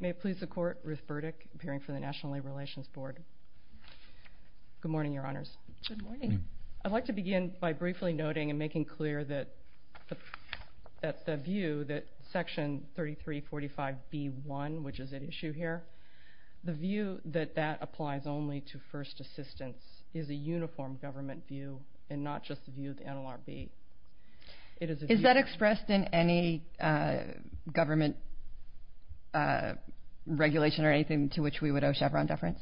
May it please the Court, Ruth Burdick, appearing for the National Labor Relations Board. Good morning, Your Honors. Good morning. I'd like to begin by briefly noting and making clear that the view that Section 3345B-1, which is at issue here, the view that that applies only to first assistants is a uniform government view and not just the view of the NLRB. Is that expressed in any government regulation or anything to which we would owe Chevron deference?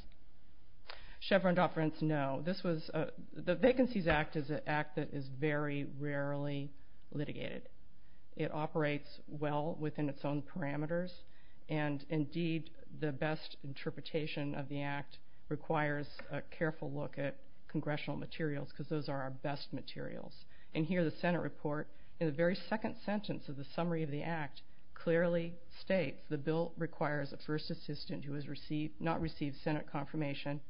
Chevron deference, no. The Vacancies Act is an act that is very rarely litigated. It operates well within its own parameters, and indeed the best interpretation of the act requires a careful look at congressional materials because those are our best materials. And here the Senate report, in the very second sentence of the summary of the act, clearly states the bill requires a first assistant who has not received Senate confirmation,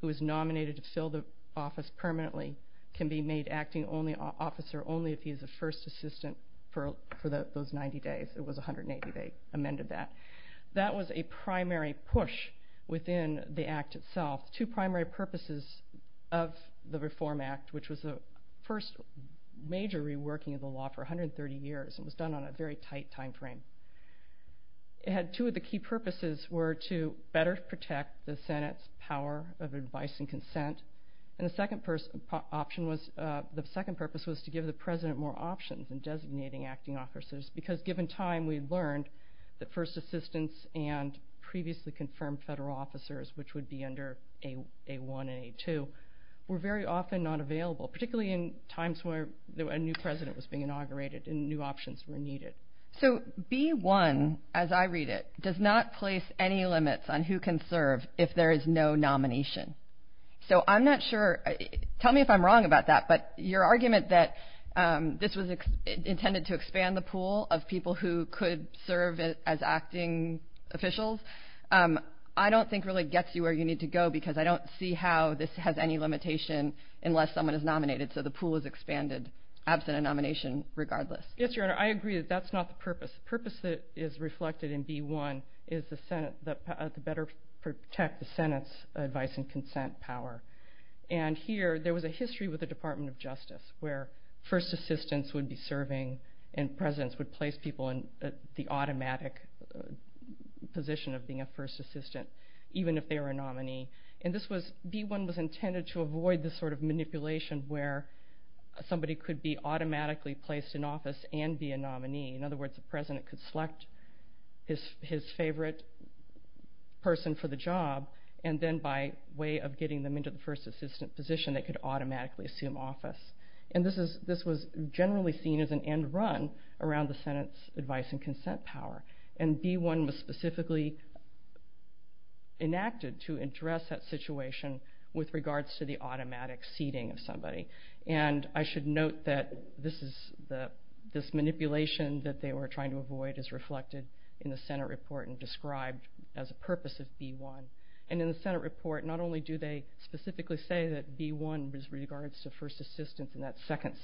who is nominated to fill the office permanently, can be made acting officer only if he is a first assistant for those 90 days. It was 180 they amended that. That was a primary push within the act itself. Two primary purposes of the Reform Act, which was the first major reworking of the law for 130 years, it was done on a very tight time frame. It had two of the key purposes were to better protect the Senate's power of advice and consent, and the second purpose was to give the President more options in designating acting officers because given time we learned that first assistants and previously confirmed federal officers, which would be under A-1 and A-2, were very often not available, particularly in times where a new president was being inaugurated and new options were needed. So B-1, as I read it, does not place any limits on who can serve if there is no nomination. So I'm not sure, tell me if I'm wrong about that, but your argument that this was intended to expand the pool of people who could serve as acting officials, I don't think really gets you where you need to go because I don't see how this has any limitation unless someone is nominated, so the pool is expanded absent a nomination regardless. Yes, Your Honor, I agree that that's not the purpose. The purpose that is reflected in B-1 is to better protect the Senate's advice and consent power, and here there was a history with the Department of Justice where first assistants would be serving and presidents would place people in the automatic position of being a first assistant, even if they were a nominee, and B-1 was intended to avoid this sort of manipulation where somebody could be automatically placed in office and be a nominee. In other words, the president could select his favorite person for the job, and then by way of getting them into the first assistant position they could automatically assume office, and this was generally seen as an end run around the Senate's advice and consent power, and B-1 was specifically enacted to address that situation with regards to the automatic seating of somebody, and I should note that this manipulation that they were trying to avoid is reflected in the Senate report and described as a purpose of B-1, and in the Senate report not only do they specifically say that B-1 is with regards to first assistants in that second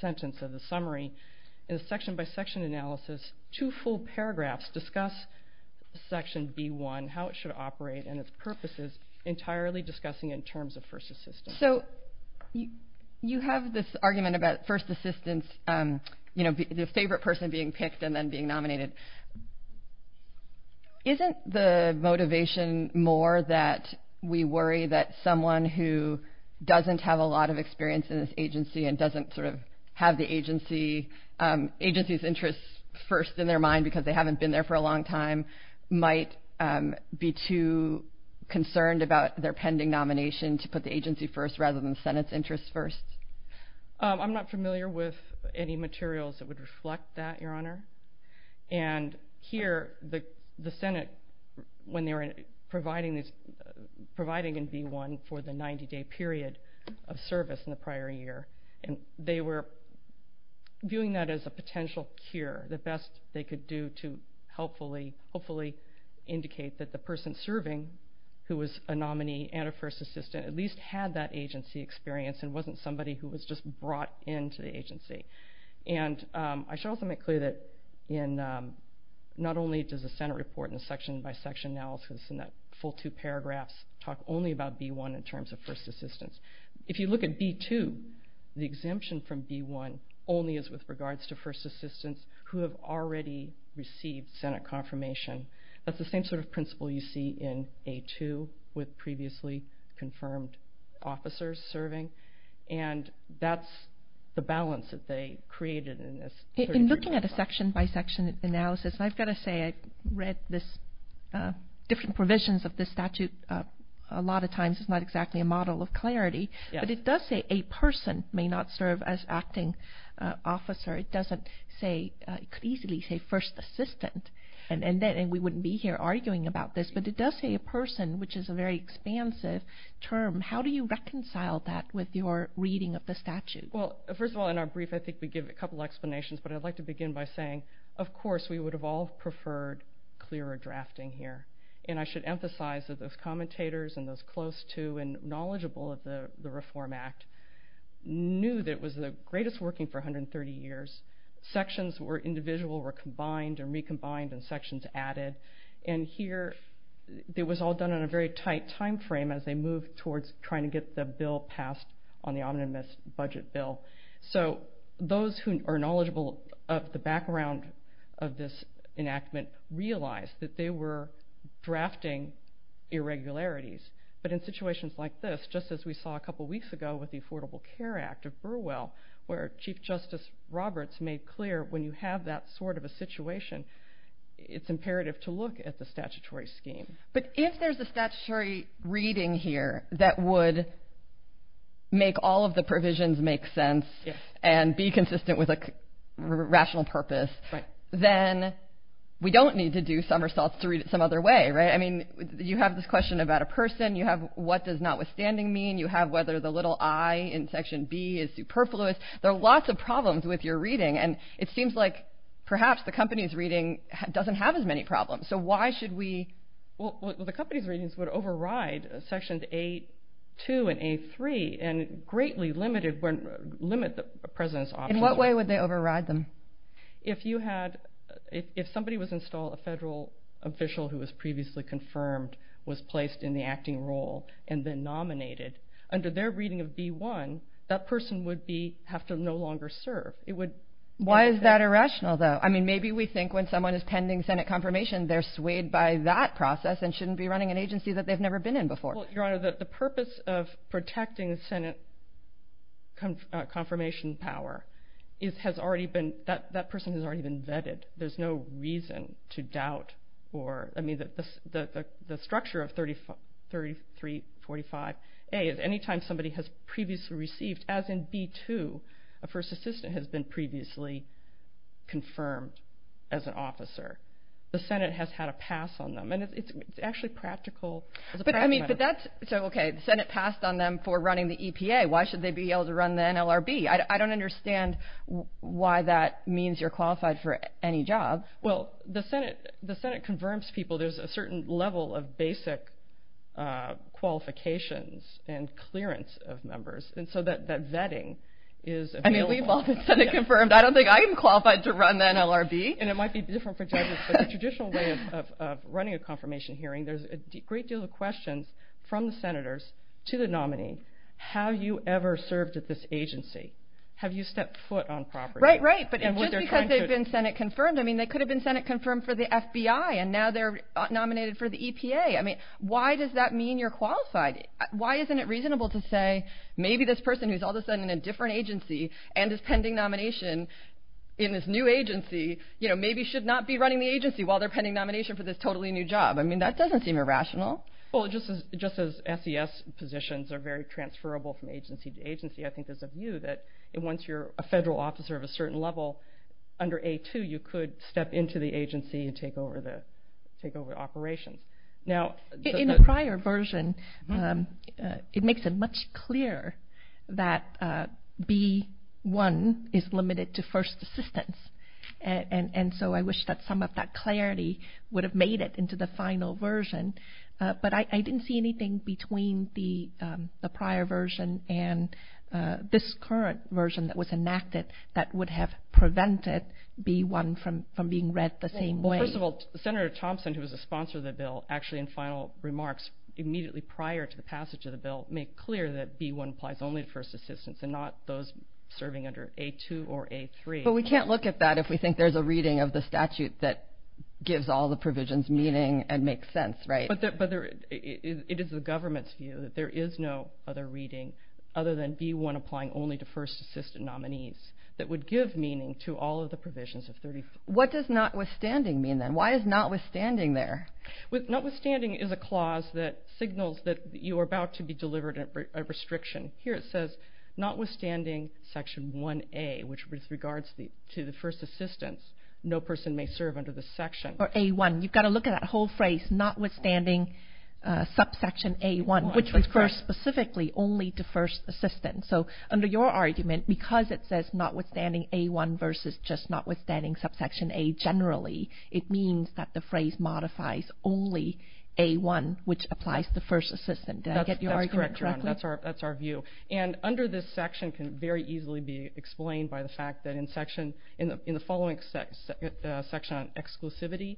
sentence of the summary, in the section-by-section analysis, two full paragraphs discuss Section B-1, how it should operate, and its purposes entirely discussing in terms of first assistants. So you have this argument about first assistants, you know, the favorite person being picked and then being nominated. Isn't the motivation more that we worry that someone who doesn't have a lot of experience in this agency and doesn't sort of have the agency's interests first in their mind because they haven't been there for a long time might be too concerned about their pending nomination to put the agency first rather than the Senate's interests first? I'm not familiar with any materials that would reflect that, Your Honor, and here the Senate when they were providing in B-1 for the 90-day period of service in the prior year, and they were viewing that as a potential cure, the best they could do to hopefully indicate that the person serving who was a nominee and a first assistant at least had that agency experience and wasn't somebody who was just brought into the agency. And I should also make clear that not only does the Senate report in the section-by-section analysis in that full two paragraphs talk only about B-1 in terms of first assistants. If you look at B-2, the exemption from B-1 only is with regards to first assistants who have already received Senate confirmation. That's the same sort of principle you see in A-2 with previously confirmed officers serving, and that's the balance that they created in this. In looking at a section-by-section analysis, I've got to say I've read different provisions of this statute. A lot of times it's not exactly a model of clarity, but it does say a person may not serve as acting officer. It could easily say first assistant, and we wouldn't be here arguing about this, but it does say a person, which is a very expansive term. How do you reconcile that with your reading of the statute? Well, first of all, in our brief I think we give a couple explanations, but I'd like to begin by saying of course we would have all preferred clearer drafting here, and I should emphasize that those commentators and those close to and knowledgeable of the Reform Act knew that it was the greatest working for 130 years. Sections were individual, were combined and recombined, and sections added, and here it was all done in a very tight time frame as they moved towards trying to get the bill passed on the omnibus budget bill. So those who are knowledgeable of the background of this enactment realized that they were drafting irregularities, but in situations like this, just as we saw a couple weeks ago with the Affordable Care Act of Burwell, where Chief Justice Roberts made clear when you have that sort of a situation, it's imperative to look at the statutory scheme. But if there's a statutory reading here that would make all of the provisions make sense and be consistent with a rational purpose, then we don't need to do somersaults to read it some other way, right? I mean, you have this question about a person. You have what does notwithstanding mean. You have whether the little i in Section B is superfluous. There are lots of problems with your reading, and it seems like perhaps the company's reading doesn't have as many problems. So why should we? Well, the company's readings would override Sections A-2 and A-3 and greatly limit the President's option. In what way would they override them? If somebody was installed, a federal official who was previously confirmed was placed in the acting role and then nominated, under their reading of B-1, that person would have to no longer serve. Why is that irrational, though? I mean, maybe we think when someone is pending Senate confirmation, they're swayed by that process and shouldn't be running an agency that they've never been in before. Well, Your Honor, the purpose of protecting Senate confirmation power has already been—that person has already been vetted. There's no reason to doubt or—I mean, the structure of 3345A is any time somebody has previously received, as in B-2, a first assistant has been previously confirmed as an officer. The Senate has had a pass on them, and it's actually practical. But that's—so, okay, the Senate passed on them for running the EPA. Why should they be able to run the NLRB? I don't understand why that means you're qualified for any job. Well, the Senate confirms people. There's a certain level of basic qualifications and clearance of members. And so that vetting is available. I mean, we've all been Senate confirmed. I don't think I am qualified to run the NLRB. And it might be different for judges, but the traditional way of running a confirmation hearing, there's a great deal of questions from the Senators to the nominee. Have you ever served at this agency? Have you stepped foot on property? Right, right, but just because they've been Senate confirmed, I mean, they could have been Senate confirmed for the FBI, and now they're nominated for the EPA. I mean, why does that mean you're qualified? Why isn't it reasonable to say maybe this person who's all of a sudden in a different agency and is pending nomination in this new agency, you know, maybe should not be running the agency while they're pending nomination for this totally new job? I mean, that doesn't seem irrational. Well, just as SES positions are very transferable from agency to agency, I think there's a view that once you're a federal officer of a certain level, under A2 you could step into the agency and take over operations. In a prior version, it makes it much clearer that B1 is limited to first assistance, and so I wish that some of that clarity would have made it into the final version, but I didn't see anything between the prior version and this current version that was enacted that would have prevented B1 from being read the same way. First of all, Senator Thompson, who was a sponsor of the bill, actually in final remarks, immediately prior to the passage of the bill, made clear that B1 applies only to first assistance and not those serving under A2 or A3. But we can't look at that if we think there's a reading of the statute that gives all the provisions meaning and makes sense, right? But it is the government's view that there is no other reading other than B1 applying only to first assistance nominees that would give meaning to all of the provisions of 35. What does notwithstanding mean then? Why is notwithstanding there? Notwithstanding is a clause that signals that you are about to be delivered a restriction. Here it says, notwithstanding section 1A, which regards to the first assistance, no person may serve under this section. Or A1. You've got to look at that whole phrase, notwithstanding subsection A1, which refers specifically only to first assistance. So under your argument, because it says notwithstanding A1 versus just notwithstanding subsection A generally, it means that the phrase modifies only A1, which applies to first assistance. Did I get your argument correctly? That's correct, Your Honor. That's our view. And under this section can very easily be explained by the fact that in the following section on exclusivity,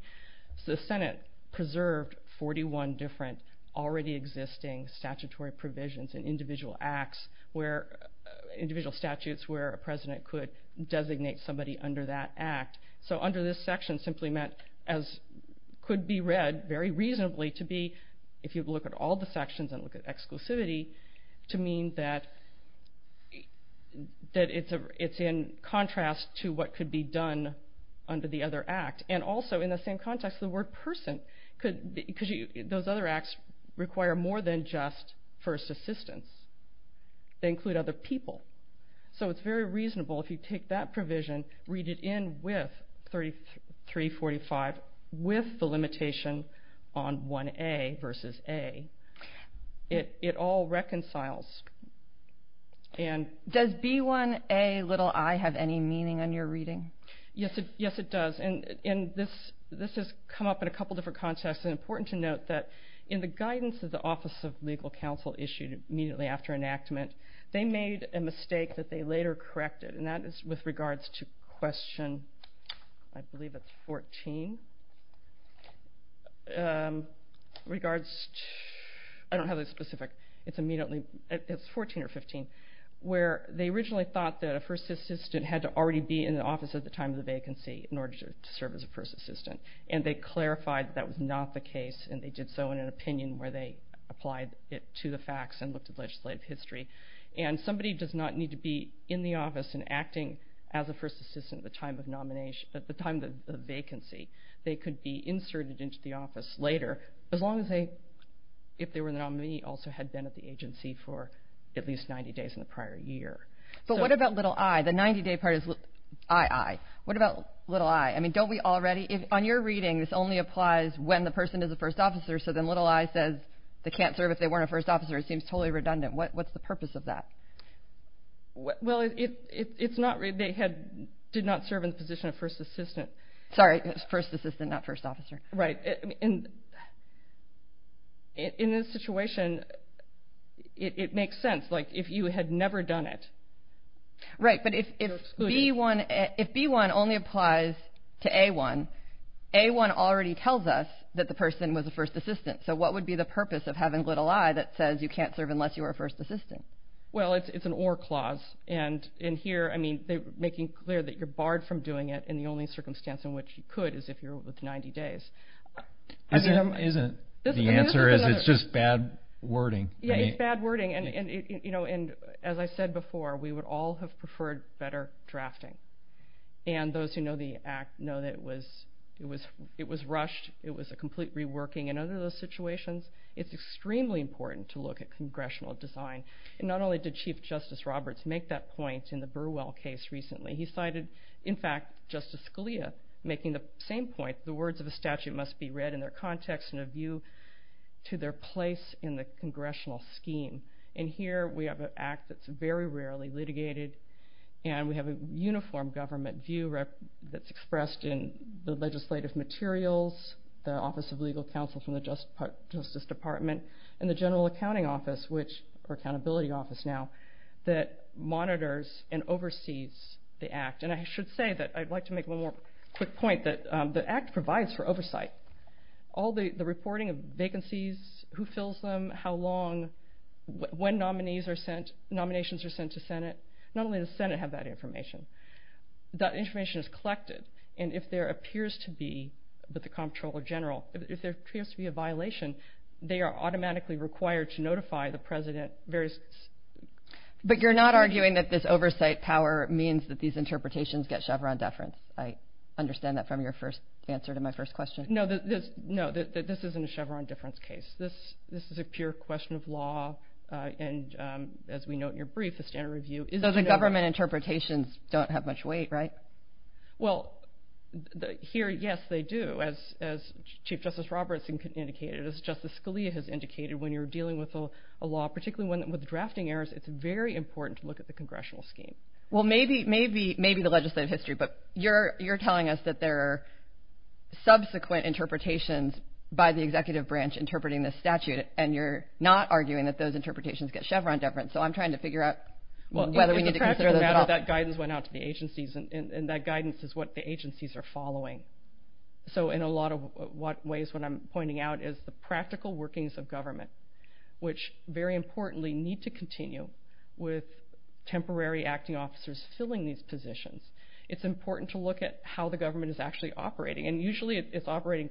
the Senate preserved 41 different already existing statutory provisions and individual acts, individual statutes, where a president could designate somebody under that act. So under this section simply meant, as could be read very reasonably to be, if you look at all the sections and look at exclusivity, to mean that it's in contrast to what could be done under the other act. And also in the same context, the word person, because those other acts require more than just first assistance. They include other people. So it's very reasonable if you take that provision, read it in with 345, with the limitation on 1A versus A. It all reconciles. Does B1Ai have any meaning in your reading? Yes, it does. And this has come up in a couple different contexts. It's important to note that in the guidance of the Office of Legal Counsel issued immediately after enactment, they made a mistake that they later corrected, and that is with regards to question, I believe it's 14, regards to, I don't have it specific. It's immediately, it's 14 or 15, where they originally thought that a first assistant had to already be in the office at the time of the vacancy in order to serve as a first assistant. And they clarified that that was not the case, and they did so in an opinion where they applied it to the facts and looked at legislative history. And somebody does not need to be in the office and acting as a first assistant at the time of the vacancy. They could be inserted into the office later, as long as they, if they were the nominee, also had been at the agency for at least 90 days in the prior year. But what about little I? The 90-day part is I, I. What about little I? I mean, don't we already, on your reading, this only applies when the person is a first officer, so then little I says they can't serve if they weren't a first officer. It seems totally redundant. What's the purpose of that? Well, it's not, they did not serve in the position of first assistant. Sorry, first assistant, not first officer. Right. In this situation, it makes sense. Like, if you had never done it. Right, but if B-1 only applies to A-1, A-1 already tells us that the person was a first assistant. So what would be the purpose of having little I that says you can't serve unless you are a first assistant? Well, it's an or clause. And here, I mean, they're making clear that you're barred from doing it in the only circumstance in which you could is if you're over 90 days. Isn't the answer is it's just bad wording? Yeah, it's bad wording. And, you know, and as I said before, we would all have preferred better drafting. And those who know the act know that it was, it was, it was rushed. It was a complete reworking. And under those situations, it's extremely important to look at congressional design. And not only did Chief Justice Roberts make that point in the Burwell case recently, he cited, in fact, Justice Scalia making the same point. The words of a statute must be read in their context and a view to their place in the congressional scheme. And here, we have an act that's very rarely litigated. And we have a uniform government view that's expressed in the legislative materials, the Office of Legal Counsel from the Justice Department, and the General Accounting Office, which, or Accountability Office now, that monitors and oversees the act. And I should say that I'd like to make one more quick point that the act provides for oversight. All the reporting of vacancies, who fills them, how long, when nominees are sent, nominations are sent to Senate. Not only does Senate have that information, that information is collected. And if there appears to be, with the comptroller general, if there appears to be a violation, they are automatically required to notify the president But you're not arguing that this oversight power means that these interpretations get Chevron deference. I understand that from your first answer to my first question. No, this isn't a Chevron deference case. This is a pure question of law. And as we note in your brief, the standard review... So the government interpretations don't have much weight, right? Well, here, yes, they do. As Chief Justice Roberts indicated, as Justice Scalia has indicated, when you're dealing with a law, particularly with drafting errors, it's very important to look at the congressional scheme. Well, maybe the legislative history, but you're telling us that there are subsequent interpretations by the executive branch interpreting this statute, and you're not arguing that those interpretations get Chevron deference. So I'm trying to figure out whether we need to consider those at all. That guidance went out to the agencies, and that guidance is what the agencies are following. So in a lot of ways, what I'm pointing out is the practical workings of government, which very importantly need to continue with temporary acting officers filling these positions. It's important to look at how the government is actually operating, and usually it's operating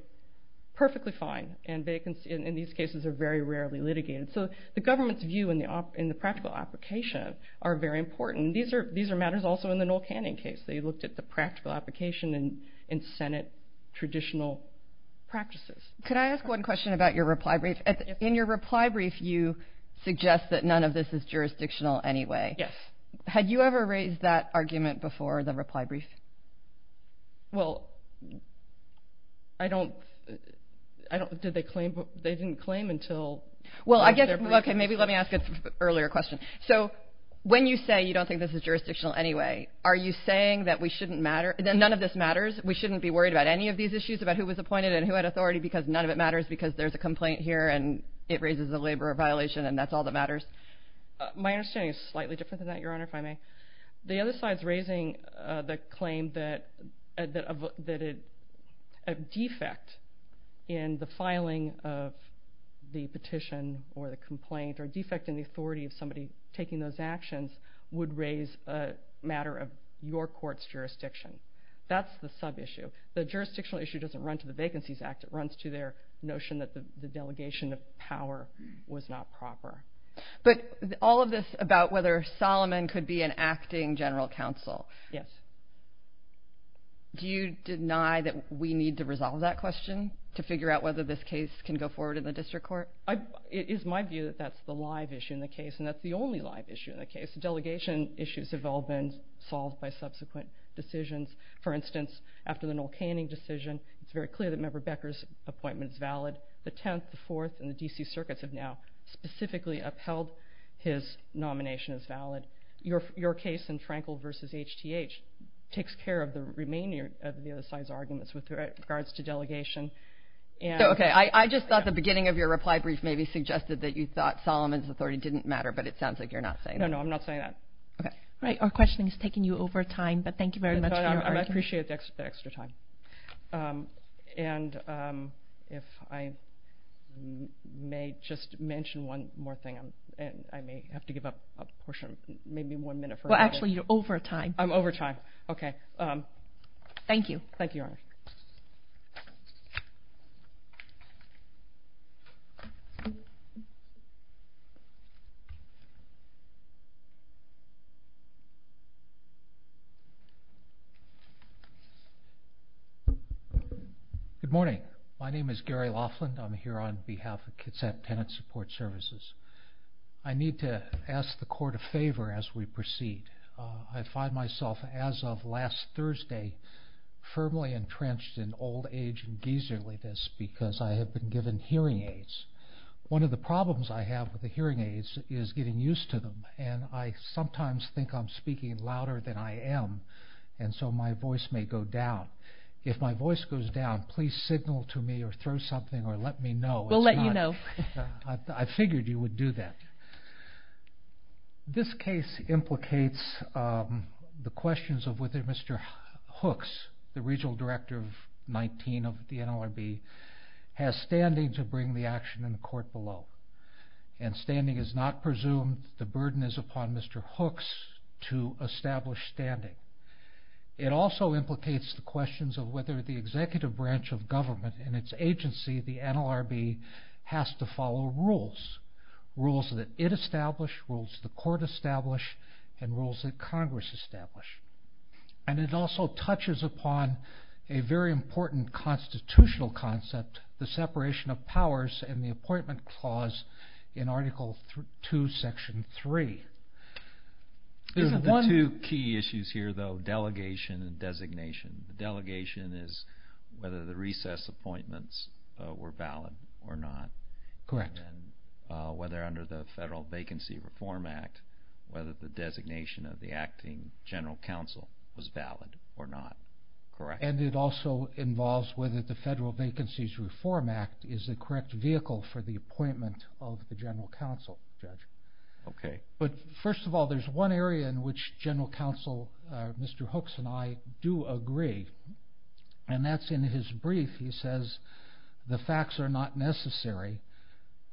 perfectly fine, and these cases are very rarely litigated. So the government's view in the practical application are very important. These are matters also in the Noel Canning case. They looked at the practical application in Senate traditional practices. Can I ask one question about your reply brief? In your reply brief, you suggest that none of this is jurisdictional anyway. Yes. Had you ever raised that argument before the reply brief? Well, I don't... Did they claim... They didn't claim until... Well, I guess... Okay, maybe let me ask an earlier question. So when you say you don't think this is jurisdictional anyway, are you saying that we shouldn't matter, that none of this matters, we shouldn't be worried about any of these issues, about who was appointed and who had authority, because none of it matters, because there's a complaint here and it raises a labor violation and that's all that matters? My understanding is slightly different than that, Your Honor, if I may. The other side's raising the claim that a defect in the filing of the petition or the complaint or defect in the authority of somebody taking those actions would raise a matter of your court's jurisdiction. That's the sub-issue. The jurisdictional issue doesn't run to the Vacancies Act. It runs to their notion that the delegation of power was not proper. But all of this about whether Solomon could be an acting general counsel... Yes. Do you deny that we need to resolve that question to figure out whether this case can go forward in the district court? It is my view that that's the live issue in the case, and that's the only live issue in the case. The delegation issues have all been solved by subsequent decisions. For instance, after the Noel Canning decision, it's very clear that Member Becker's appointment is valid. The Tenth, the Fourth, and the D.C. Circuits have now specifically upheld his nomination as valid. Your case in Frankel v. H.T.H. takes care of the remaining of the other side's arguments with regards to delegation. Okay, I just thought the beginning of your reply brief maybe suggested that you thought Solomon's authority didn't matter, but it sounds like you're not saying that. No, no, I'm not saying that. All right, our questioning is taking you over time, but thank you very much for your argument. I appreciate the extra time. And if I may just mention one more thing, I may have to give up a portion, maybe one minute. Well, actually, you're over time. Thank you. Thank you, Your Honor. Good morning. My name is Gary Laughland. I'm here on behalf of Kitsap Tenant Support Services. I need to ask the Court a favor as we proceed. I find myself, as of last Thursday, firmly entrenched in old age and geyserliness because I have been given hearing aids. One of the problems I have with the hearing aids is getting used to them, and I sometimes think I'm speaking louder than I am, and so my voice may go down. If my voice goes down, please signal to me or throw something or let me know. We'll let you know. I figured you would do that. This case implicates the questions of whether Mr. Hooks, the Regional Director of 19 of the NLRB, has standing to bring the action in the Court below. Standing is not presumed. The burden is upon Mr. Hooks to establish standing. It also implicates the questions of whether the executive branch of government and its agency, the NLRB, has to follow rules, rules that it established, rules the Court established, and rules that Congress established. It also touches upon a very important constitutional concept, the separation of powers and the appointment clause in Article II, Section 3. There are two key issues here, though, delegation and designation. The delegation is whether the recess appointments were valid or not. Correct. Whether under the Federal Vacancy Reform Act, whether the designation of the acting general counsel was valid or not. Correct. And it also involves whether the Federal Vacancies Reform Act is the correct vehicle for the appointment of the general counsel. Okay. But first of all, there's one area in which general counsel, Mr. Hooks and I, do agree, and that's in his brief. He says the facts are not necessary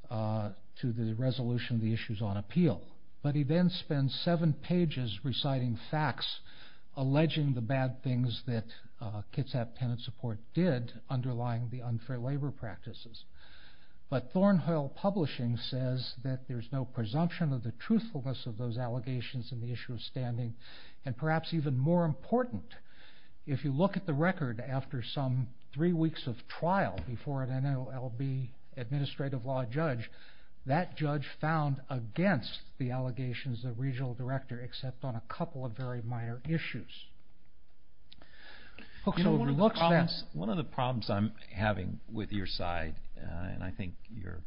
to the resolution of the issues on appeal. But he then spends seven pages reciting facts, alleging the bad things that Kitsap Tenant Support did, underlying the unfair labor practices. But Thornhill Publishing says that there's no presumption of the truthfulness of those allegations in the issue of standing. And perhaps even more important, if you look at the record after some three weeks of trial before an NLRB administrative law judge, that judge found against the allegations of regional director, except on a couple of very minor issues. Hooks overlooks that. One of the problems I'm having with your side, and I think your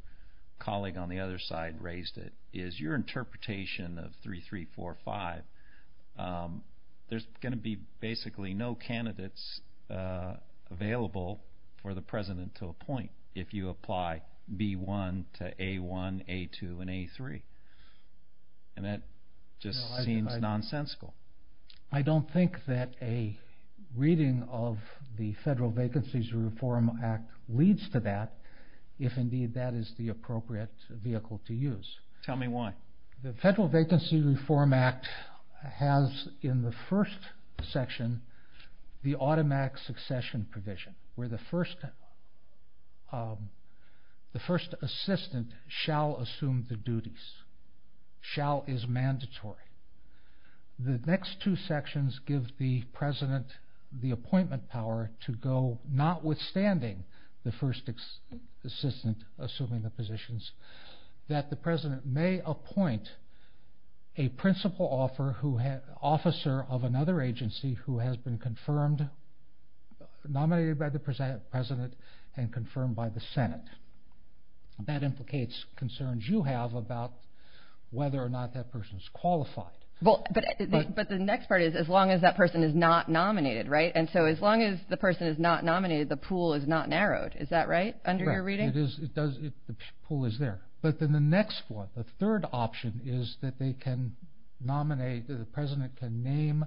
colleague on the other side raised it, is your interpretation of 3345. There's going to be basically no candidates available for the president to appoint if you apply B-1 to A-1, A-2, and A-3. And that just seems nonsensical. I don't think that a reading of the Federal Vacancies Reform Act leads to that, if indeed that is the appropriate vehicle to use. Tell me why. The Federal Vacancies Reform Act has in the first section the automatic succession provision, where the first assistant shall assume the duties. Shall is mandatory. The next two sections give the president the appointment power to go notwithstanding the first assistant assuming the positions, that the president may appoint a principal officer of another agency who has been confirmed, nominated by the president, and confirmed by the Senate. That implicates concerns you have about whether or not that person is qualified. But the next part is, as long as that person is not nominated, right? And so as long as the person is not nominated, the pool is not narrowed. Is that right, under your reading? It does. The pool is there. But then the next one, the third option, is that the president can name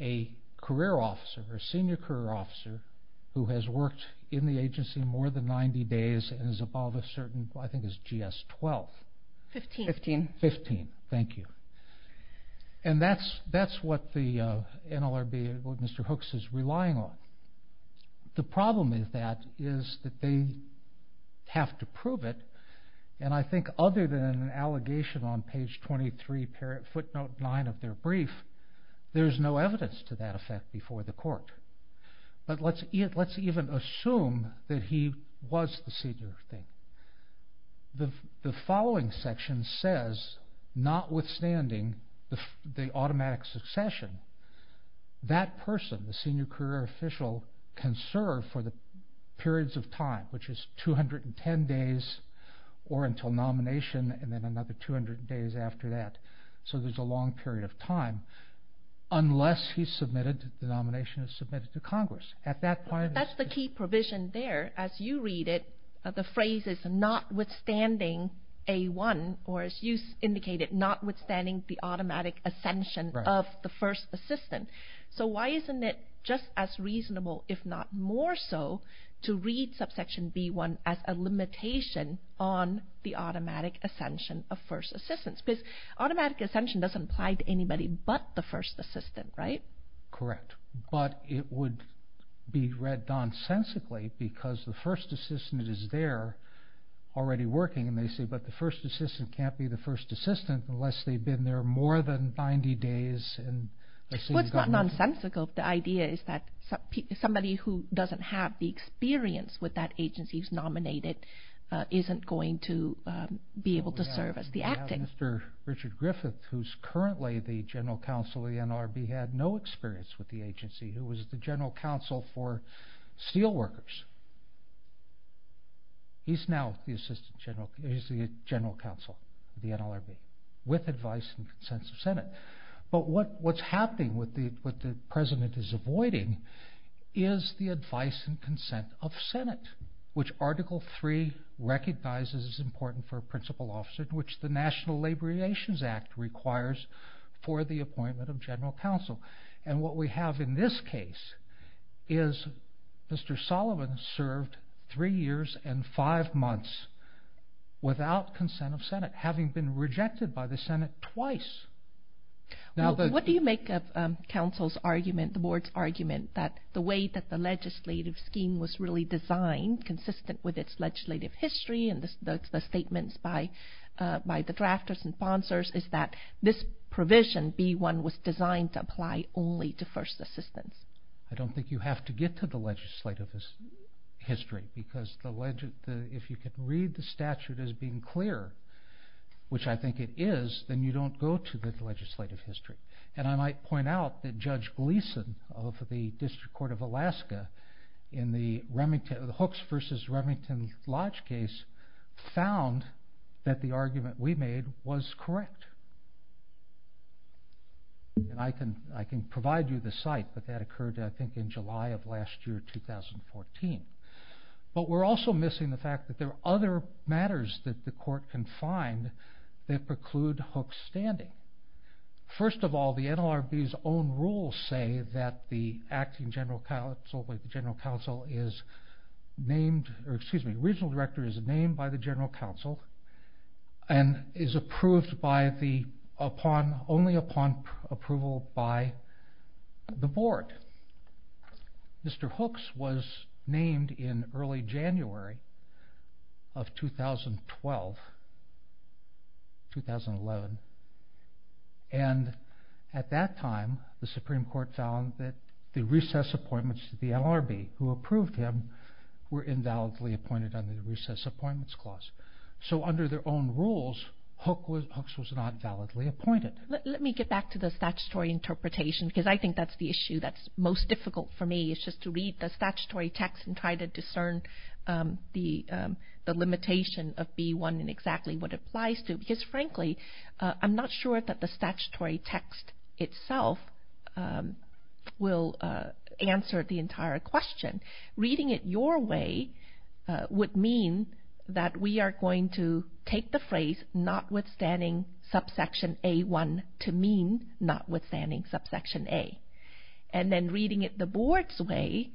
a career officer, a senior career officer who has worked in the agency more than 90 days and is above a certain, I think it's GS-12. Fifteen. Fifteen, thank you. And that's what the NLRB, what Mr. Hooks is relying on. The problem with that is that they have to prove it, and I think other than an allegation on page 23, footnote 9 of their brief, there's no evidence to that effect before the court. But let's even assume that he was the senior thing. The following section says, notwithstanding the automatic succession, that person, the senior career official, can serve for the periods of time, which is 210 days or until nomination, and then another 200 days after that. So there's a long period of time, unless he's submitted, the nomination is submitted to Congress. That's the key provision there. As you read it, the phrase is, notwithstanding A-1, or as you indicated, notwithstanding the automatic ascension of the first assistant. So why isn't it just as reasonable, if not more so, to read subsection B-1 as a limitation on the automatic ascension of first assistants? Because automatic ascension doesn't apply to anybody but the first assistant, right? Correct, but it would be read nonsensically because the first assistant is there already working, and they say, but the first assistant can't be the first assistant unless they've been there more than 90 days. Well, it's not nonsensical. The idea is that somebody who doesn't have the experience with that agency he's nominated isn't going to be able to serve as the acting. We have Mr. Richard Griffith, who's currently the general counsel of the NLRB, had no experience with the agency, who was the general counsel for steel workers. He's now the general counsel of the NLRB, with advice and consent of Senate. But what's happening, what the president is avoiding, is the advice and consent of Senate, which Article 3 recognizes is important for a principal officer, which the National Labor Relations Act requires for the appointment of general counsel. And what we have in this case is Mr. Sullivan served three years and five months without consent of Senate, having been rejected by the Senate twice. What do you make of counsel's argument, the board's argument, that the way that the legislative scheme was really designed, consistent with its legislative history and the statements by the drafters and sponsors, is that this provision, B-1, was designed to apply only to first assistants? I don't think you have to get to the legislative history, because if you can read the statute as being clear, which I think it is, then you don't go to the legislative history. And I might point out that Judge Gleeson of the District Court of Alaska, in the Hooks versus Remington Lodge case, found that the argument we made was correct. And I can provide you the site, but that occurred I think in July of last year, 2014. But we're also missing the fact that there are other matters that the court can find that preclude Hooks' standing. First of all, the NLRB's own rules say that the acting general counsel, the regional director is named by the general counsel and is approved only upon approval by the board. Mr. Hooks was named in early January of 2012, 2011. And at that time, the Supreme Court found that the recess appointments to the NLRB, who approved him, were invalidly appointed under the Recess Appointments Clause. So under their own rules, Hooks was not validly appointed. Let me get back to the statutory interpretation, because I think that's the issue that's most difficult for me, is just to read the statutory text and try to discern the limitation of B-1 and exactly what it applies to. Because frankly, I'm not sure that the statutory text itself will answer the entire question. Reading it your way would mean that we are going to take the phrase notwithstanding subsection A-1 to mean notwithstanding subsection A. And then reading it the board's way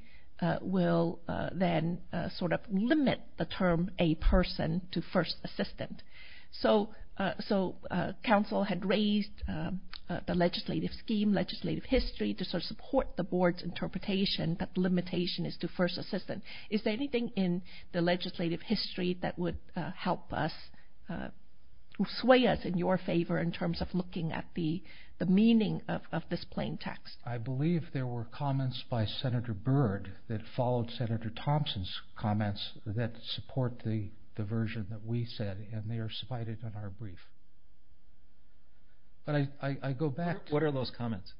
will then sort of limit the term A-person to first assistant. So counsel had raised the legislative scheme, legislative history, to sort of support the board's interpretation that the limitation is to first assistant. Is there anything in the legislative history that would help us, sway us in your favor, in terms of looking at the meaning of this plain text? I believe there were comments by Senator Byrd that followed Senator Thompson's comments that support the version that we said, and they are cited in our brief. But I go back to... What are those comments?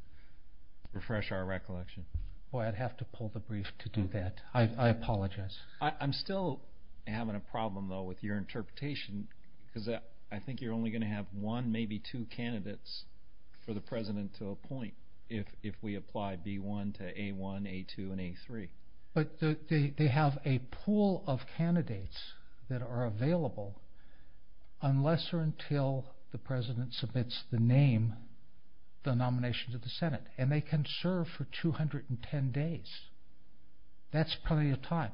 Refresh our recollection. Boy, I'd have to pull the brief to do that. I apologize. I'm still having a problem, though, with your interpretation, because I think you're only going to have one, maybe two candidates for the president to appoint if we apply B-1 to A-1, A-2, and A-3. But they have a pool of candidates that are available unless or until the president submits the name, the nomination to the Senate. And they can serve for 210 days. That's plenty of time.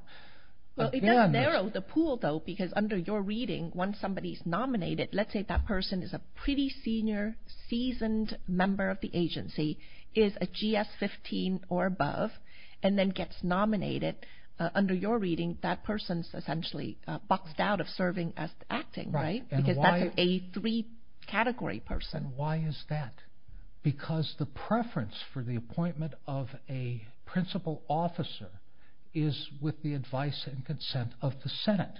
It does narrow the pool, though, because under your reading, once somebody's nominated, let's say that person is a pretty senior, seasoned member of the agency, is a GS-15 or above, and then gets nominated. Under your reading, that person's essentially boxed out of serving as acting, right? Because that's an A-3 category person. And why is that? Because the preference for the appointment of a principal officer is with the advice and consent of the Senate.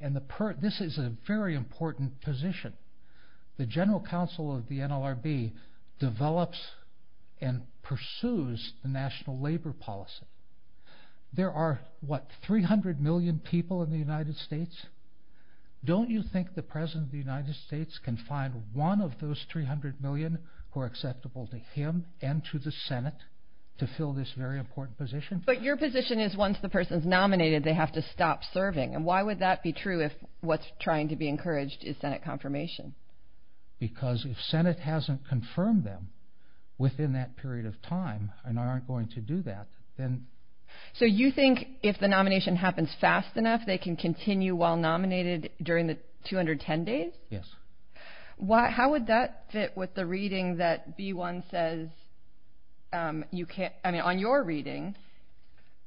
And this is a very important position. The general counsel of the NLRB develops and pursues the national labor policy. There are, what, 300 million people in the United States? Don't you think the president of the United States can find one of those 300 million who are acceptable to him and to the Senate to fill this very important position? But your position is once the person's nominated, they have to stop serving. And why would that be true if what's trying to be encouraged is Senate confirmation? Because if Senate hasn't confirmed them within that period of time and aren't going to do that, then... So you think if the nomination happens fast enough, they can continue while nominated during the 210 days? Yes. How would that fit with the reading that B-1 says you can't... I mean, on your reading,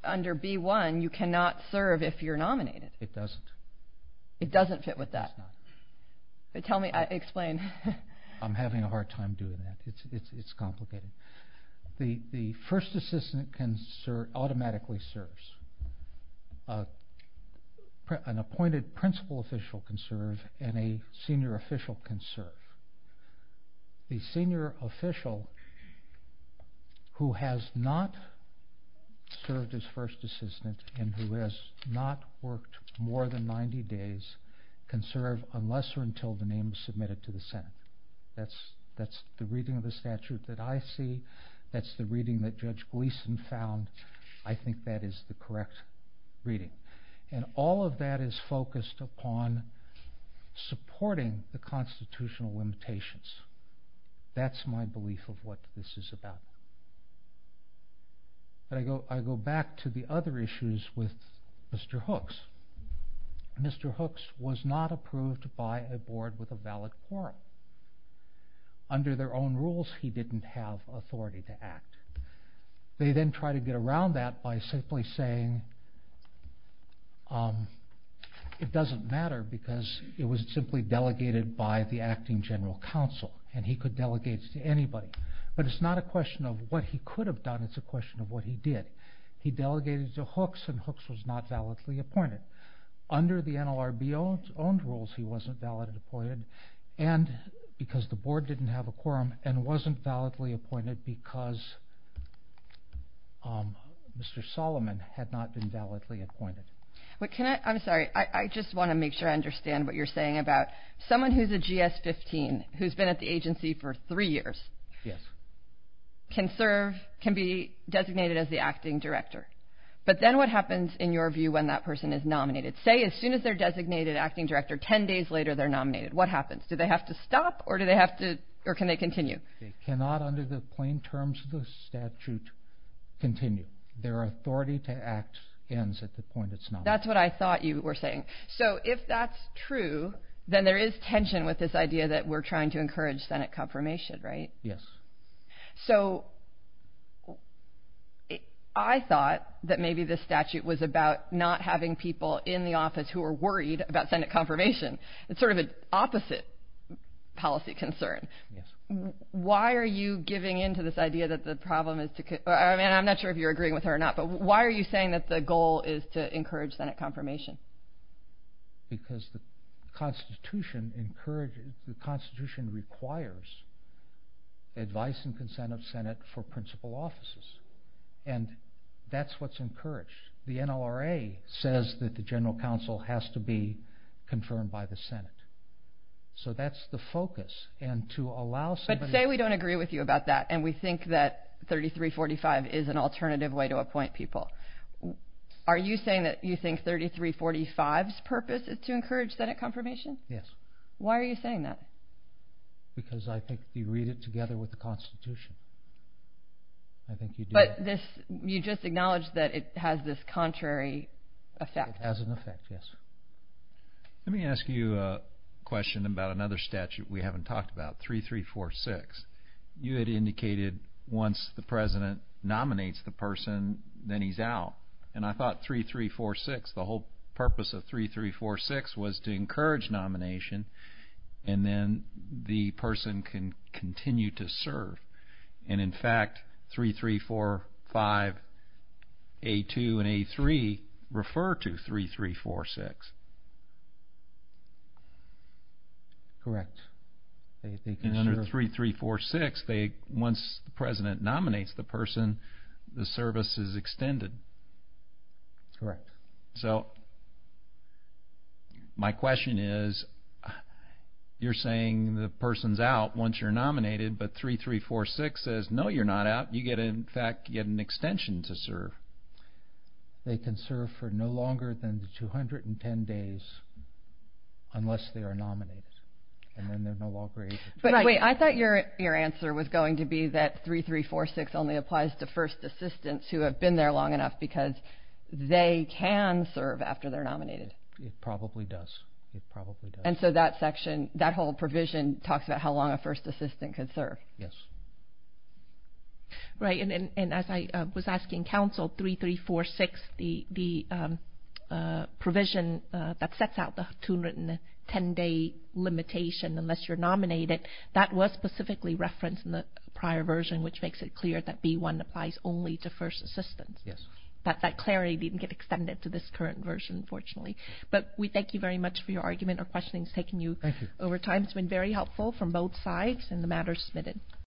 under B-1, you cannot serve if you're nominated. It doesn't. It doesn't fit with that? It does not. Tell me, explain. I'm having a hard time doing that. It's complicated. The first assistant automatically serves. An appointed principal official can serve, and a senior official can serve. The senior official who has not served as first assistant and who has not worked more than 90 days can serve unless or until the name is submitted to the Senate. That's the reading of the statute that I see. That's the reading that Judge Gleeson found. I think that is the correct reading. And all of that is focused upon supporting the constitutional limitations. That's my belief of what this is about. But I go back to the other issues with Mr. Hooks. Mr. Hooks was not approved by a board with a valid quorum. Under their own rules, he didn't have authority to act. They then try to get around that by simply saying it doesn't matter because it was simply delegated by the acting general counsel, and he could delegate to anybody. But it's not a question of what he could have done. It's a question of what he did. He delegated to Hooks, and Hooks was not validly appointed. Under the NLRB-owned rules, he wasn't validly appointed because the board didn't have a quorum and wasn't validly appointed because Mr. Solomon had not been validly appointed. I'm sorry. I just want to make sure I understand what you're saying about someone who's a GS-15 who's been at the agency for three years can be designated as the acting director. But then what happens, in your view, when that person is nominated? Say as soon as they're designated acting director, 10 days later they're nominated. What happens? Do they have to stop, or can they continue? They cannot, under the plain terms of the statute, continue. Their authority to act ends at the point it's nominated. That's what I thought you were saying. So if that's true, then there is tension with this idea that we're trying to encourage Senate confirmation, right? Yes. So I thought that maybe this statute was about not having people in the office who are worried about Senate confirmation. It's sort of an opposite policy concern. Yes. Why are you giving in to this idea that the problem is to— I mean, I'm not sure if you're agreeing with her or not, but why are you saying that the goal is to encourage Senate confirmation? Because the Constitution requires advice and consent of Senate for principal offices. And that's what's encouraged. The NLRA says that the general counsel has to be confirmed by the Senate. So that's the focus. But say we don't agree with you about that, and we think that 3345 is an alternative way to appoint people. Are you saying that you think 3345's purpose is to encourage Senate confirmation? Yes. Why are you saying that? Because I think you read it together with the Constitution. I think you do. But you just acknowledged that it has this contrary effect. It has an effect, yes. Let me ask you a question about another statute we haven't talked about, 3346. You had indicated once the president nominates the person, then he's out. And I thought 3346, the whole purpose of 3346 was to encourage nomination, and then the person can continue to serve. And, in fact, 3345, A2, and A3 refer to 3346. Correct. And under 3346, once the president nominates the person, the service is extended. Correct. So my question is, you're saying the person's out once you're nominated, but 3346 says, no, you're not out. You get, in fact, you get an extension to serve. They can serve for no longer than 210 days unless they are nominated, and then they're no longer able to serve. Wait, I thought your answer was going to be that 3346 only applies to first assistants who have been there long enough because they can serve after they're nominated. It probably does. It probably does. And so that section, that whole provision, talks about how long a first assistant can serve. Yes. Right. And as I was asking counsel, 3346, the provision that sets out the 210-day limitation unless you're nominated, that was specifically referenced in the prior version, which makes it clear that B1 applies only to first assistants. Yes. That clarity didn't get extended to this current version, fortunately. But we thank you very much for your argument. Our questioning has taken you over time. It's been very helpful from both sides, and the matter is submitted.